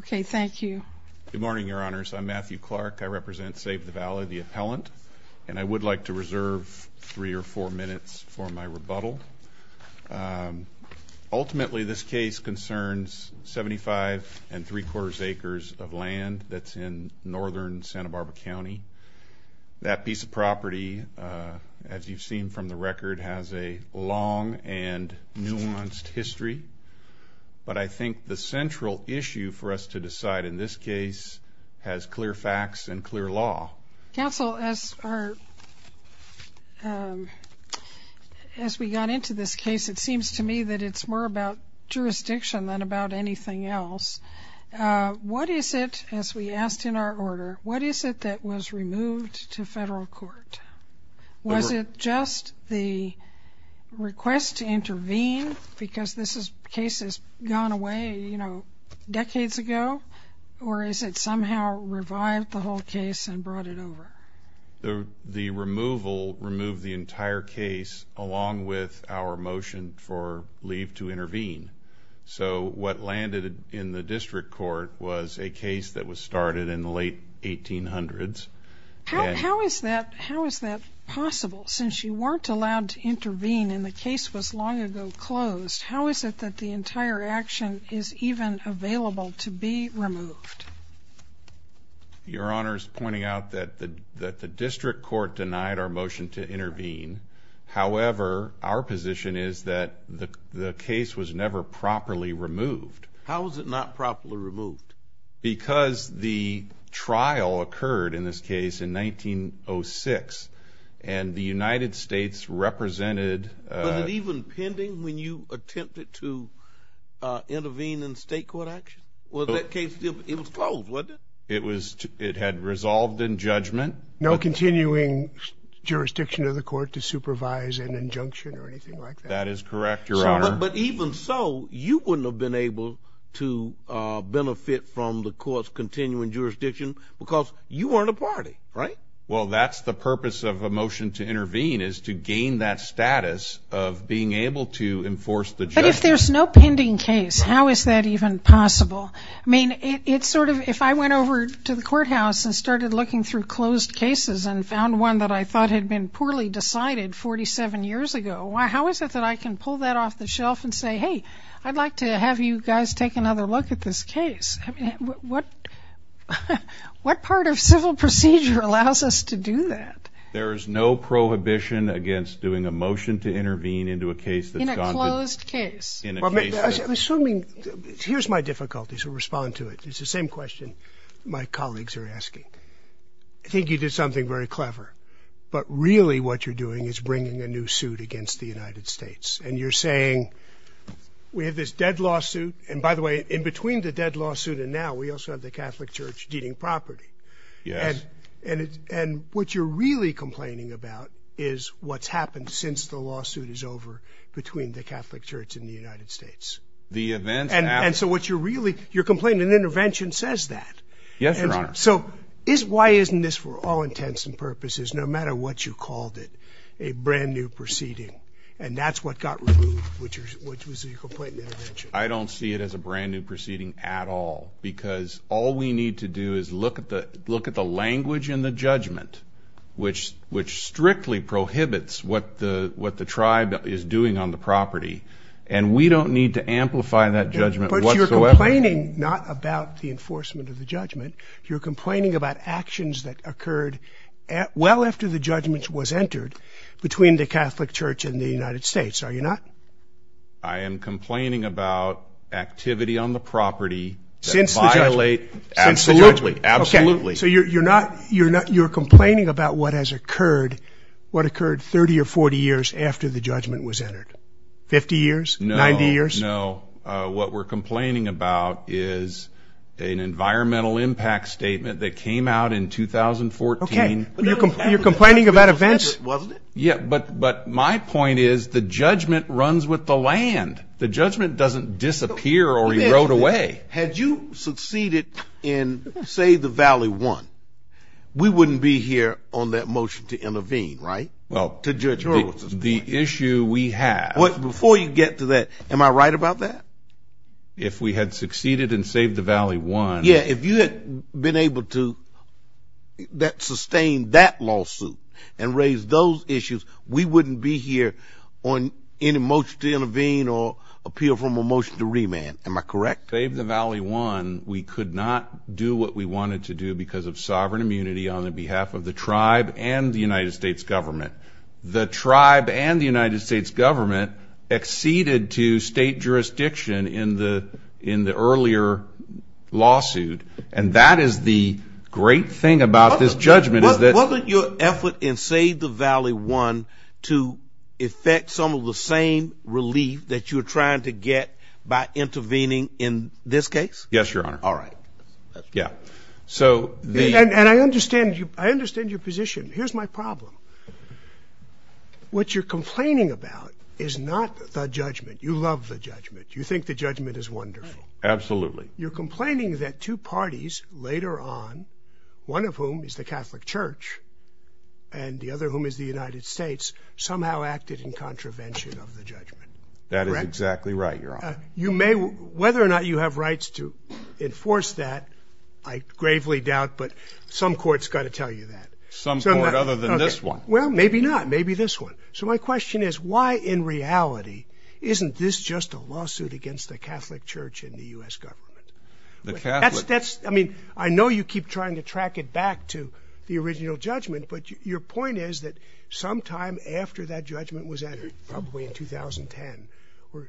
Okay, thank you. Good morning, Your Honors. I'm Matthew Clark. I represent Save the Valley, the appellant, and I would like to reserve three or four minutes for my rebuttal. Ultimately, this case concerns 75 and three quarters acres of land that's in northern Santa Barbara County. That piece of property, as you've seen from the record, has a long and central issue for us to decide. And this case has clear facts and clear law. Counsel, as we got into this case, it seems to me that it's more about jurisdiction than about anything else. What is it, as we asked in our order, what is it that was removed to federal court? Was it just the request to intervene? Because this case has gone away, you know, decades ago? Or is it somehow revived the whole case and brought it over? The removal removed the entire case, along with our motion for leave to intervene. So what landed in the district court was a case that was started in the late 1800s. How is that? How is that possible? Since you weren't allowed to intervene and the case was long ago closed, how is it that the entire action is even available to be removed? Your Honor's pointing out that the that the district court denied our motion to intervene. However, our position is that the case was never properly removed. How is it not properly removed? Because the trial occurred in this case in 1906. And the United States represented even pending when you attempted to intervene in state court action. Well, that case, it was called what it was, it had resolved in judgment, no continuing jurisdiction of the court to supervise an injunction or anything like that is correct, Your Honor. But even so, you wouldn't have been able to benefit from the courts continuing jurisdiction, because you weren't a party, right? Well, that's the purpose of a motion to intervene is to gain that status of being able to enforce the But if there's no pending case, how is that even possible? I mean, it's sort of if I went over to the courthouse and started looking through closed cases and found one that I thought had been poorly decided 47 years ago, why, how is it that I can pull that off the shelf and say, Hey, I'd like to have you guys take another look at this case? What? What part of civil procedure allows us to do that? There is no prohibition against doing a motion to intervene into a case that's a closed case. Assuming, here's my difficulty. So respond to it. It's the same question my colleagues are asking. I think you did something very clever. But really, what you're doing is bringing a new suit against the United States. And you're saying we have this dead lawsuit. And by the way, in between the dead lawsuit, and now we also have the Catholic Church deeding property. Yes. And it's and what you're really complaining about is what's happened since the lawsuit is over between the Catholic Church in the United States, the event. And so what you're really you're complaining an intervention says that. Yes, Your Honor. So is why isn't this for all intents and purposes, no matter what you called it, a brand new proceeding. And that's what got removed, which was a complaint. I don't see it as a brand new proceeding at all. Because all we need to do is look at the look at the language in the judgment, which which strictly prohibits what the what the tribe is doing on the property. And we don't need to amplify that judgment. But you're complaining not about the enforcement of the judgment. You're complaining about actions that occurred at well after the judgments was entered between the Catholic Church in the United States, are you not? I am complaining about activity on the property since the judgment. Absolutely. So you're not you're not you're complaining about what has occurred. What occurred 30 or 40 years after the judgment was entered? 50 years? 90 years? No, what we're complaining about is an environmental impact statement that came out in 2014. You're complaining about events, wasn't it? Yeah, but but my point is the judgment runs with the land. The judgment doesn't disappear or erode away. Had you succeeded in, say, the Valley one, we wouldn't be here on that motion to intervene, right? Well, to judge the issue we had before you get to that. Am I right about that? If we had succeeded and save the Valley one? Yeah, if you had been able to that sustain that lawsuit, and raise those issues, we wouldn't be here on any motion to intervene or appeal from a motion to remand. Am I correct? Save the Valley one, we could not do what we wanted to do because of sovereign immunity on the behalf of the tribe and the United States government. The tribe and the United States government exceeded to state jurisdiction in the in the earlier lawsuit. And that is the great thing about this judgment is that wasn't your effort and save the Valley one to effect some of the same relief that you're trying to get by intervening in this case? Yes, your honor. All right. Yeah. So the and I understand you. I understand your position. Here's my problem. What you're complaining about is not the judgment. You love the judgment. You think the judgment is wonderful. Absolutely. You're complaining that two parties later on, one of whom is the Catholic Church, and the other whom is the United States somehow acted in contravention of the judgment. That is exactly right, your honor. You may whether or not you have rights to enforce that. I gravely doubt but some courts got to tell you that some other than this one. Well, maybe not maybe this one. So my question is why in reality, isn't this just a lawsuit against the Catholic Church in the US government? The Catholic that's I mean, I know you keep trying to track it back to the original judgment. But your point is that sometime after that judgment was added, probably in 2010, or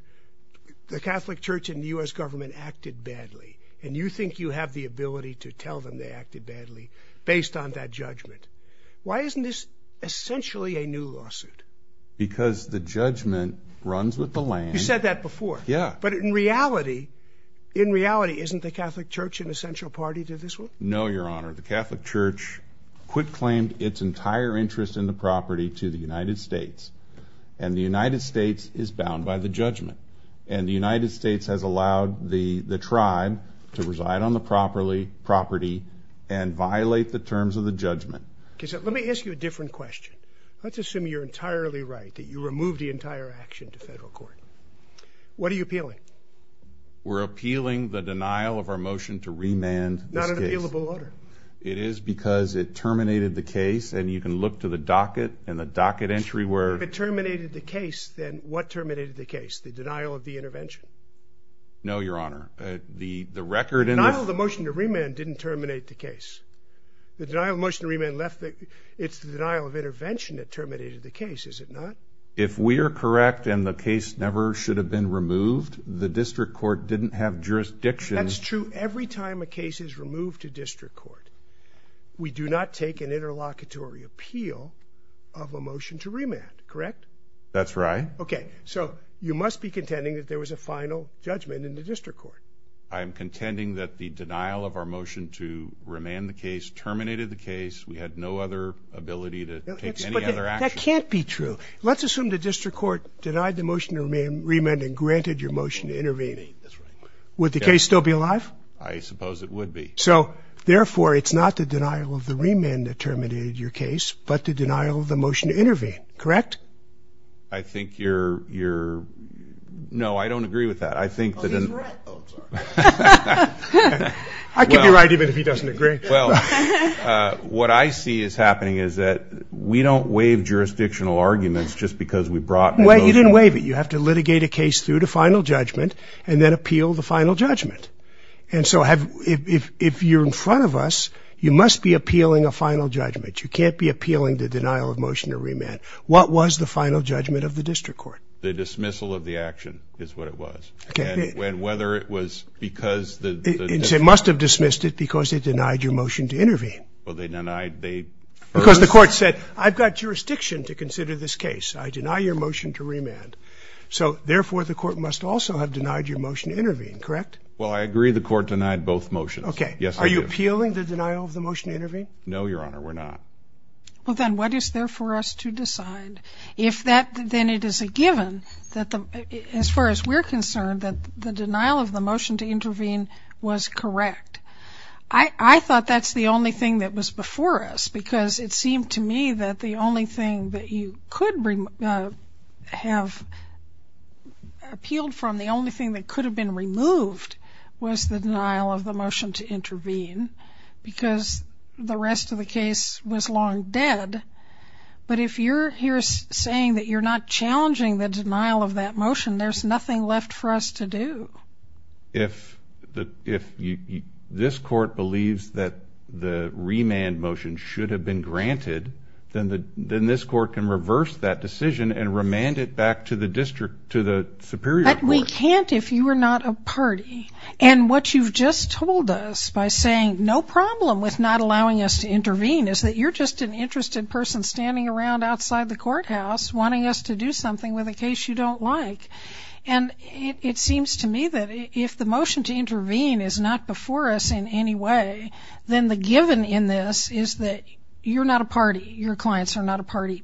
the Catholic Church in the US government acted badly, and you think you have the ability to tell them they acted badly, based on that judgment. Why isn't this essentially a new lawsuit? Because the judgment runs with the land. You said that before? Yeah. But in reality, in reality, isn't the Catholic Church an essential party to this one? No, your honor, the Catholic Church, quit claimed its entire interest in the property to the United States. And the United States is bound by the judgment. And the United States has allowed the tribe to reside on the property and violate the terms of the judgment. Okay, so let me ask you a different question. Let's assume you're entirely right that you remove the entire action to federal court. What are you appealing? We're appealing the denial of our motion to remand not an appealable order. It is because it terminated the case and you can look to the docket and the docket entry where it terminated the case, then what terminated the case, the denial of the intervention? No, your honor, the the record and all the motion to remand didn't terminate the case. The denial motion remand left. It's the denial of intervention that terminated the case, is it not? If we are correct, and the case never should have been removed, the district court didn't have jurisdiction. That's true. Every time a case is removed to of a motion to remand, correct? That's right. Okay, so you must be contending that there was a final judgment in the district court. I'm contending that the denial of our motion to remand the case terminated the case. We had no other ability to take any other action. That can't be true. Let's assume the district court denied the motion to remain remand and granted your motion to intervene. Would the case still be alive? I suppose it would be. So therefore it's not the denial of the remand terminated your case, but the denial of the motion to intervene, correct? I think you're you're no, I don't agree with that. I think that I can be right, even if he doesn't agree. Well, what I see is happening is that we don't waive jurisdictional arguments just because we brought what you didn't waive it, you have to litigate a case through the final judgment, and then appeal the final judgment. And so have if if you're in front of us, you must be appealing a final judgment, you can't be appealing the denial of motion to remand. What was the final judgment of the district court? The dismissal of the action is what it was. Okay, whether it was because they must have dismissed it because they denied your motion to intervene. Well, they denied they because the court said, I've got jurisdiction to consider this case, I deny your motion to remand. So therefore, the court must also have denied your motion to intervene. Correct? Well, I agree the court denied both motion. Okay. Yes. Are you appealing the denial of the motion to intervene? No, Your Honor, we're not. Well, then what is there for us to decide? If that then it is a given that the as far as we're concerned that the denial of the motion to intervene was correct. I thought that's the only thing that was before us because it seemed to me that the only thing that you could bring have appealed from the only thing that could have been removed was the denial of the motion to intervene because the rest of the case was long dead. But if you're here saying that you're not challenging the denial of that motion, there's nothing left for us to do. If the if you this court believes that the remand motion should have been granted, then the then this court can reverse that decision and remand it back to the district to the superior. But we can't if you are not a party. And what you've just told us by saying no problem with not allowing us to intervene is that you're just an interested person standing around outside the courthouse wanting us to do something with a case you don't like. And it seems to me that if the motion to intervene is not before us in any way, then the given in this is that you're not a party, your clients are not a party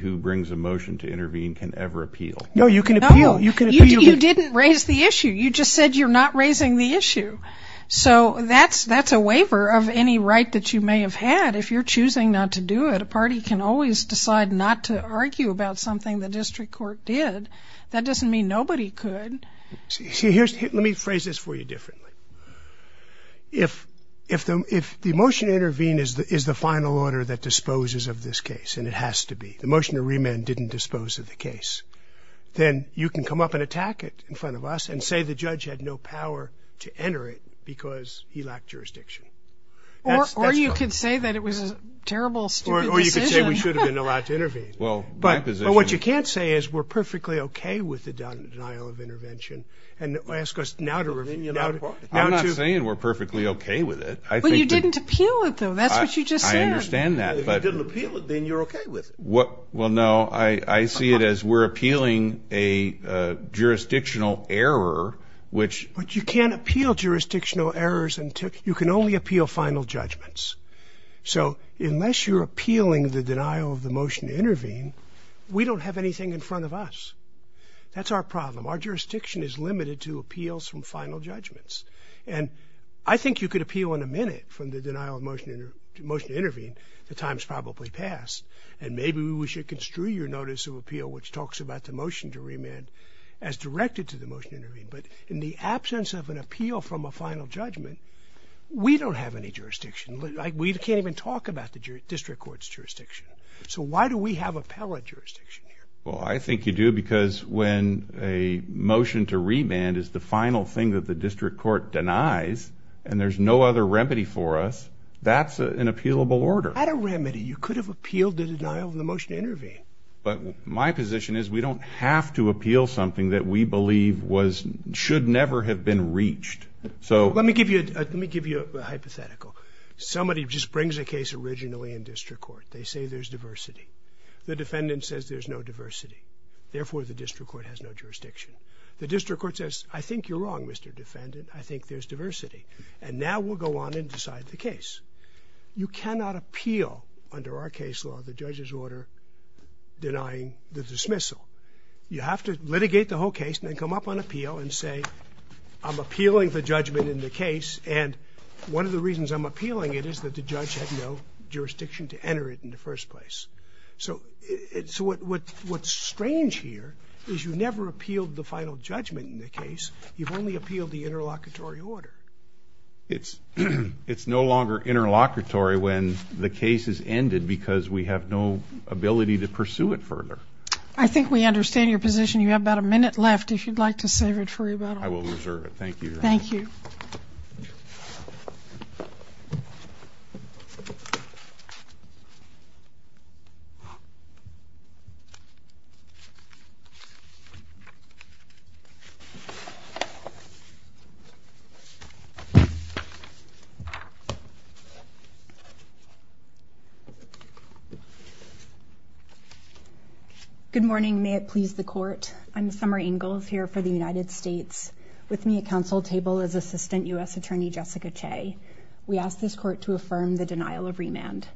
who brings a motion to intervene can ever appeal. No, you can. You can. You didn't raise the issue. You just said you're not raising the issue. So that's that's a waiver of any right that you may have had. If you're choosing not to do it, a party can always decide not to argue about something the district court did. That doesn't mean nobody could see here. Let me phrase this for you differently. If, if, if the motion to intervene is the is the final order that disposes of this case, and it has to be the motion to remand didn't dispose of the case, then you can come up and attack it in front of us and say the judge had no power to enter it because he lacked jurisdiction. Or, or you could say that it was a terrible, or you could say we should have been allowed to intervene. Well, but what you can't say is we're perfectly okay with the denial of intervention. And ask us now to review. I'm not saying we're perfectly okay with it. I think you didn't appeal it, though. That's what you just said. I understand that. Then you're okay with what? Well, no, I see it as we're appealing a jurisdictional error, which you can appeal jurisdictional errors and you can only appeal final judgments. So unless you're appealing the denial of the motion to intervene, we don't have anything in front of us. That's our problem. Our jurisdiction is limited to appeals from final judgments. And I think you could appeal in a minute from the motion to intervene, which sometimes probably pass. And maybe we should construe your notice of appeal, which talks about the motion to remand as directed to the motion to intervene. But in the absence of an appeal from a final judgment, we don't have any jurisdiction. We can't even talk about the district court's jurisdiction. So why do we have appellate jurisdiction here? Well, I think you do because when a motion to remand is the final thing that the district court denies and there's no other remedy for us, that's an appealable order. That's not a remedy. You could have appealed the denial of the motion to intervene. But my position is we don't have to appeal something that we believe should never have been reached. Let me give you a hypothetical. Somebody just brings a case originally in district court. They say there's diversity. The defendant says there's no diversity. Therefore, the district court has no jurisdiction. The district court says, I think you're wrong, Mr. Defendant. I think there's no jurisdiction. So you have to go on and decide the case. You cannot appeal under our case law the judge's order denying the dismissal. You have to litigate the whole case and then come up on appeal and say, I'm appealing the judgment in the case. And one of the reasons I'm appealing it is that the judge had no jurisdiction to enter it in the first place. So it's what what what's strange here is you never appealed the final judgment in the case. You've only appealed the interlocutory order. It's no longer interlocutory when the case is ended because we have no ability to pursue it further. I think we understand your position. You have about a minute left if you'd like to save it for rebuttal. I will reserve it. Thank you. Thank you. Good morning. May it please the court. I'm Summer Ingalls here for the United States. With me at council table is Assistant U.S. Attorney Jessica Che. We ask this court to affirm the denial of remand.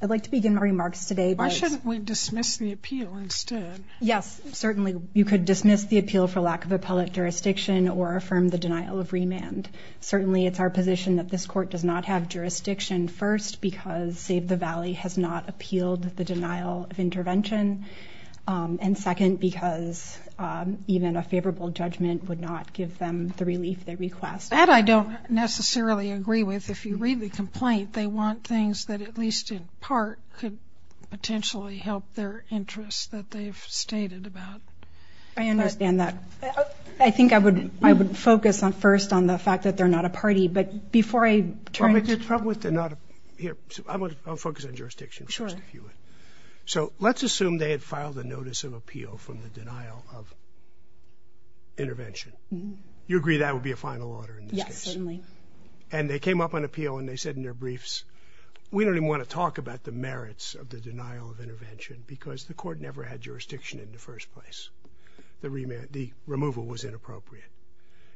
I'd like to begin my remarks today. Why shouldn't we dismiss the appeal instead? Yes, certainly. You could dismiss the appeal for lack of appellate jurisdiction or affirm the denial of remand. Certainly it's our position that this court does not have jurisdiction first because Save the Valley has not appealed the denial of intervention and second because even a favorable judgment would not give them the relief they request. That I don't necessarily agree with. If you read the complaint they want things that at least in part could potentially help their interests that they've stated about. I understand that. I think I would I would focus on first on the fact that they're not a party. But before I turn to the problem with the not here I would focus on jurisdiction. Sure. So let's assume they had filed a notice of appeal from the denial of intervention. You agree that would be a final order. Yes certainly. And they came up on appeal and they said in their briefs we don't even want to talk about the merits of the denial of intervention because the court never had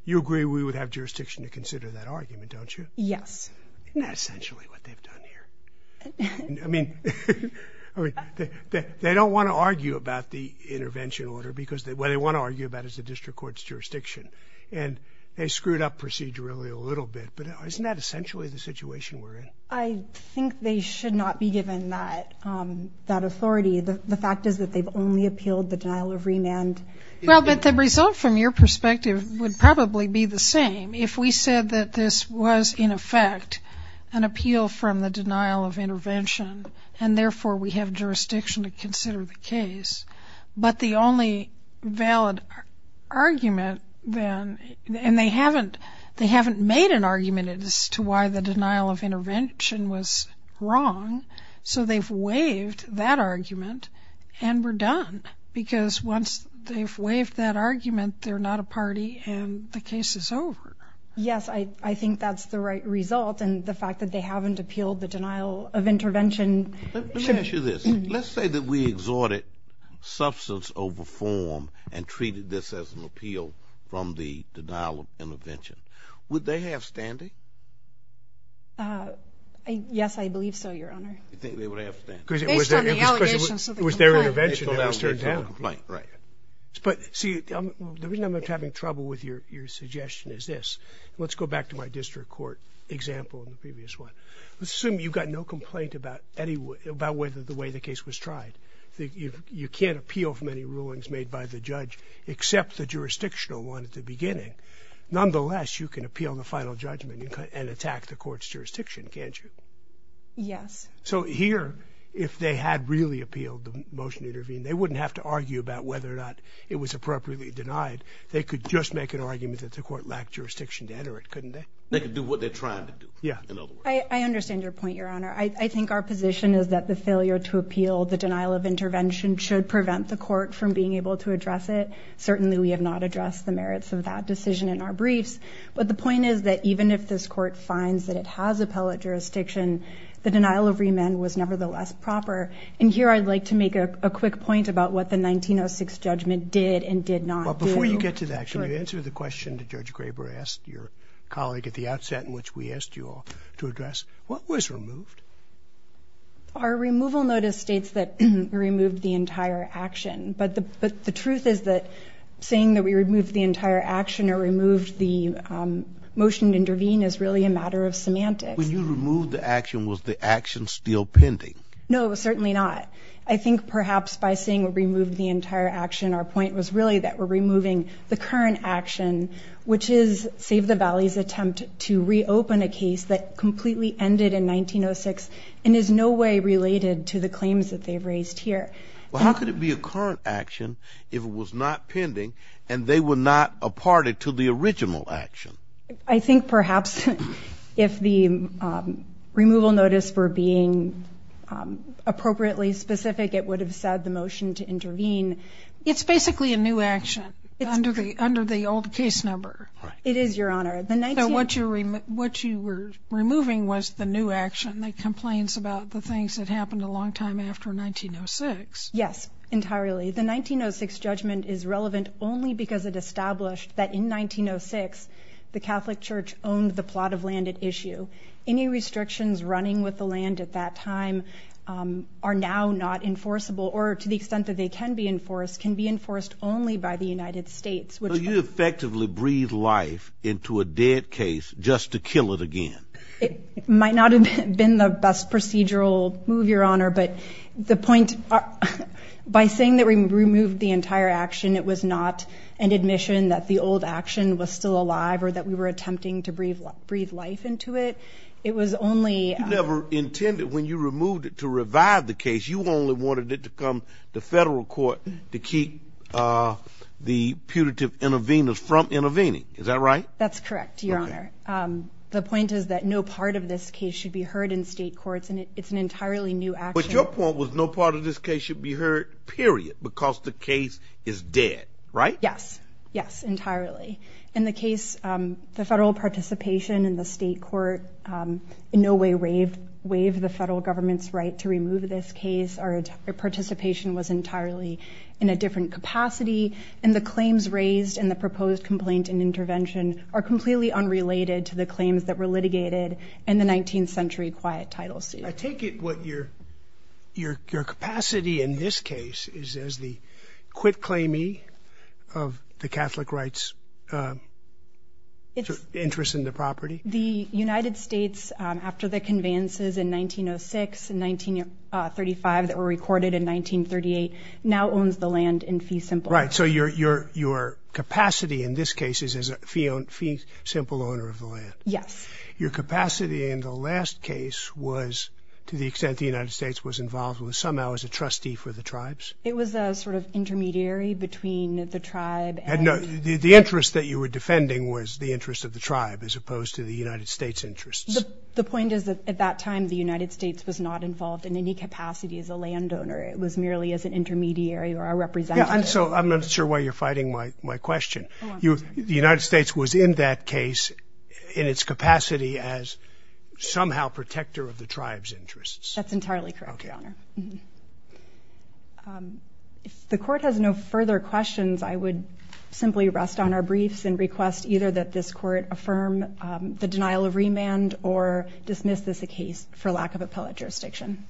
You agree we would have jurisdiction to consider that argument don't you? Yes. That's essentially what they've done here. I mean they don't want to argue about the intervention order because what they want to argue about is the district court's jurisdiction and they screwed up procedurally a little bit. But isn't that essentially the situation we're in? I think they should not be given that that authority. The fact is that they've only appealed the denial of remand. Well the result from your perspective would probably be the same if we said that this was in effect an appeal from the denial of intervention and therefore we have jurisdiction to consider the case. But the only valid argument then and they haven't they haven't made an argument as to why the denial of intervention was wrong. So they've waived that argument. They're not a party and the case is over. Yes. I think that's the right result. And the fact that they haven't appealed the denial of intervention. Let's say that we exhorted substance over form and treated this as an appeal from the denial of intervention. Would they have standing? Yes I believe so your honor. You think they would have standing? Because it was based on the allegations of the complaint. But see the reason I'm having trouble with your your suggestion is this. Let's go back to my district court example in the previous one. Let's assume you've got no complaint about whether the way the case was tried. You can't appeal for many rulings made by the judge except the jurisdictional one at the beginning. Nonetheless you can appeal the final judgment and attack the court's jurisdiction can't you? Yes. So here if they had really appealed the motion to intervene they wouldn't have to argue about whether or not it was appropriately denied. They could just make an argument that the court lacked jurisdiction to enter it couldn't they? They could do what they're trying to do. Yeah. I understand your point your honor. I think our position is that the failure to appeal the denial of intervention should prevent the court from being able to address it. Certainly we have not addressed the merits of that decision in our briefs. But the point is that even if this court finds that it has appellate jurisdiction the denial of remand was nevertheless proper. And here I'd like to make a quick point about what the 1906 judgment did and did not do. Before you get to that can you answer the question that Judge Graber asked your colleague at the outset in which we asked you all to address. What was removed? Our removal notice states that we removed the entire action. But the truth is that saying that we removed the entire action or removed the motion to intervene is really a matter of semantics. When you removed the action was the action still pending? No certainly not. I think perhaps by saying we removed the entire action our point was really that we're removing the current action which is Save the Valley's attempt to reopen a case that completely ended in 1906 and is no way related to the claims that they've raised here. Well how could it be a current action if it was not pending and they were not a party to the original action? I think perhaps if the removal notice were being appropriately specific it would have said the motion to intervene. It's basically a new action under the under the old case number. It is Your Honor. What you were removing was the new action that complains about the things that happened a long time after 1906. Yes entirely. The 1906 judgment is relevant only because it established that in 1906 the Catholic Church owned the plot of land at issue. Any restrictions running with the land at that time are now not enforceable or to the extent that they can be enforced can be enforced only by the United States. Would you effectively breathe life into a dead case just to kill it again? It might not have been the best procedural move Your Honor but the point by saying that we removed the entire action it was not an admission that the old action was still alive or that we were attempting to breathe life into it. It was only never intended when you removed it to revive the case you only wanted it to come to federal court to keep the putative interveners from intervening. Is that right? That's correct Your Honor. The point is that no part of this case should be heard in state courts and it's an entirely new act. But your point was no part of this case should be heard period because the case is dead. Right. Yes yes entirely. In the case the federal participation in the state court in no way waived the federal government's right to remove this case. Our participation was entirely in a different capacity and the claims raised in the proposed complaint and intervention are completely unrelated to the claims that were litigated in the 19th century quiet title suit. I take it what your your capacity in this case is as the quit claiming of the Catholic rights interest in the property the United States after the conveyances in 1906 and 1935 that were recorded in 1938 now owns the land in fee simple right. So your your your capacity in this case is as a fee fee simple owner of the land. Yes. Your capacity in the last case was to the extent the United States was involved with somehow as a trustee for the tribes. It was a sort of intermediary between the tribe and the interest that you were defending was the interest of the tribe as opposed to the United States interests. The point is that at that time the United States was not involved in any capacity as a landowner. It was merely as an intermediary or a representative. And so I'm not sure why you're fighting my my question. You the United States was in that case in its capacity as somehow protector of the tribes interests. That's entirely correct. OK. If the court has no further questions I would simply rest on our briefs and request either that this court affirm the denial of remand or dismiss this a case for lack of appellate jurisdiction.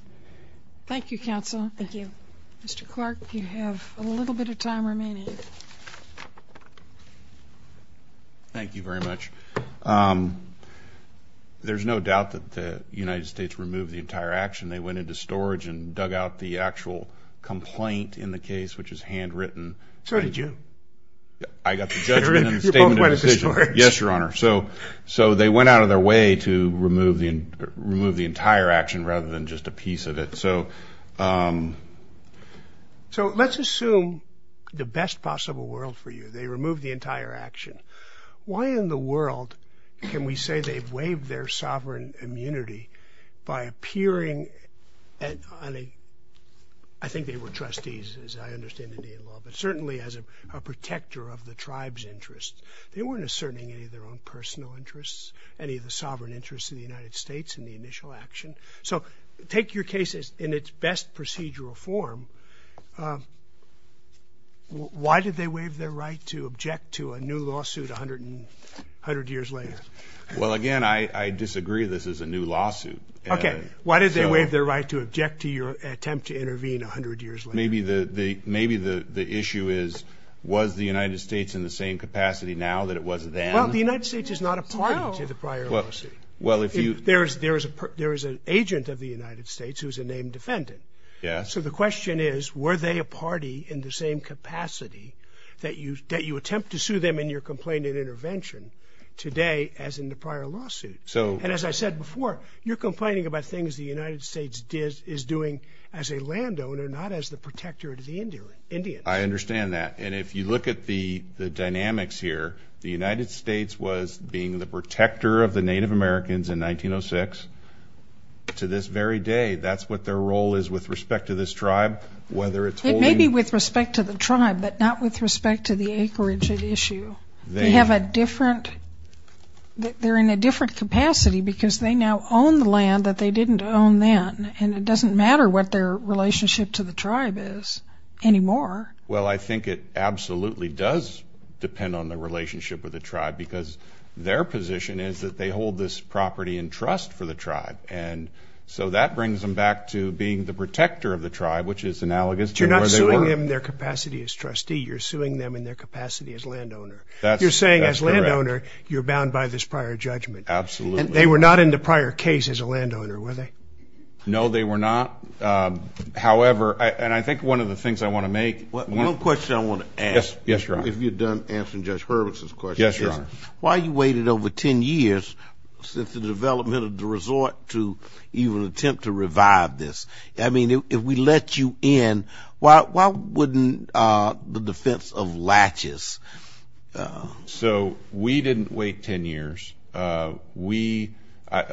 Thank you counsel. Thank you. Mr. Clark you have a little bit of time remaining. Thank you very much. There's no doubt that the United States removed the entire action they went into storage and dug out the actual complaint in the case which is handwritten. So did you. I got the judgment and the statement of decision. Yes your honor. So so they went out of their way to remove the remove the entire action rather than just a piece of it. So so let's assume the best possible world for you. They removed the entire action. Why in the world can we say they've waived their sovereign immunity by appearing and I think they were trustees as I understand the law but certainly as a protector of the tribe's interests they weren't asserting any of their own personal interests any of the sovereign interests of the United States in the initial action. So take your cases in its best procedural form. Why did they waive their right to object to a new lawsuit a hundred and hundred years later. Well again I disagree. This is a new lawsuit. OK. Why did they waive their right to object to your attempt to intervene a hundred years. Maybe the maybe the issue is was the United States in the same capacity now that it was then. The United States is not a part of the prior. Well if you. There is there is a there is an agent of the United States who is a named defendant. Yeah. So the question is were they a party in the same capacity that you that you attempt to sue them in your complaint and intervention today as in the prior lawsuit. So and as I said before you're complaining about things the United States did is doing as a landowner not as the protector of the Indian Indians. I understand that. And if you look at the dynamics here the United States was being the protector of the Native Americans in 1906 to this very day. That's what their role is with respect to this tribe whether it's maybe with respect to the tribe but not with respect to the acreage of the issue. They have a different they're in a different capacity because they now own the land that they didn't own then and it doesn't matter what their relationship to the tribe is anymore. Well I think it absolutely does depend on the relationship with the tribe because their position is that they hold this property and trust for the tribe. And so that brings them back to being the protector of the tribe which is analogous to where they were in their capacity as trustee you're suing them in their capacity as landowner. You're saying as landowner you're bound by this prior judgment. Absolutely. They were not in the prior case as a landowner were they. No they were not. However and I think one of the things I want to make one question I want to ask. Yes. If you've done answering Judge Hurwitz's question. Yes. Why you waited over 10 years since the development of the resort to even attempt to revive this. I mean if we let you in. Why wouldn't the defense of latches. So we didn't wait 10 years. We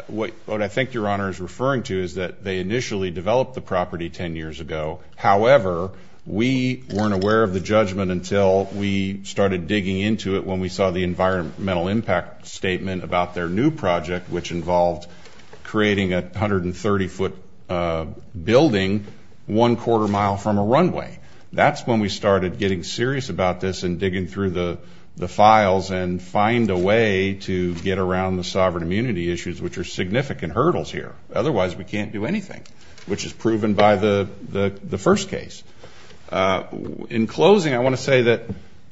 what I think your honor is referring to is that they initially developed the property 10 years ago. However we weren't aware of the judgment until we started digging into it when we saw the environmental impact statement about their new project which involved creating a hundred and hundred feet of runway. That's when we started getting serious about this and digging through the files and find a way to get around the sovereign immunity issues which are significant hurdles here. Otherwise we can't do anything which is proven by the first case. In closing I want to say that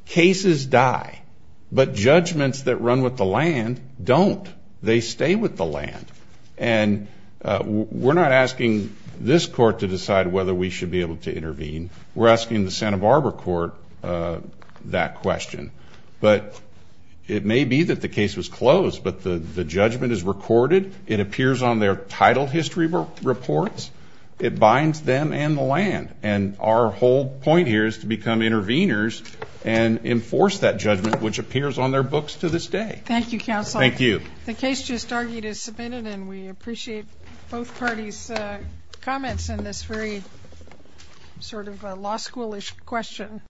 cases die but judgments that run with the land don't. They stay with the land. And we're not asking this court to decide whether we should be able to intervene. We're asking the Santa Barbara court that question. But it may be that the case was closed but the judgment is recorded. It appears on their title history reports. It binds them and the land. And our whole point here is to become interveners and enforce that judgment which appears on their books to this day. Thank you counsel. Thank you. The case just argued is submitted and we appreciate both sort of a law schoolish question.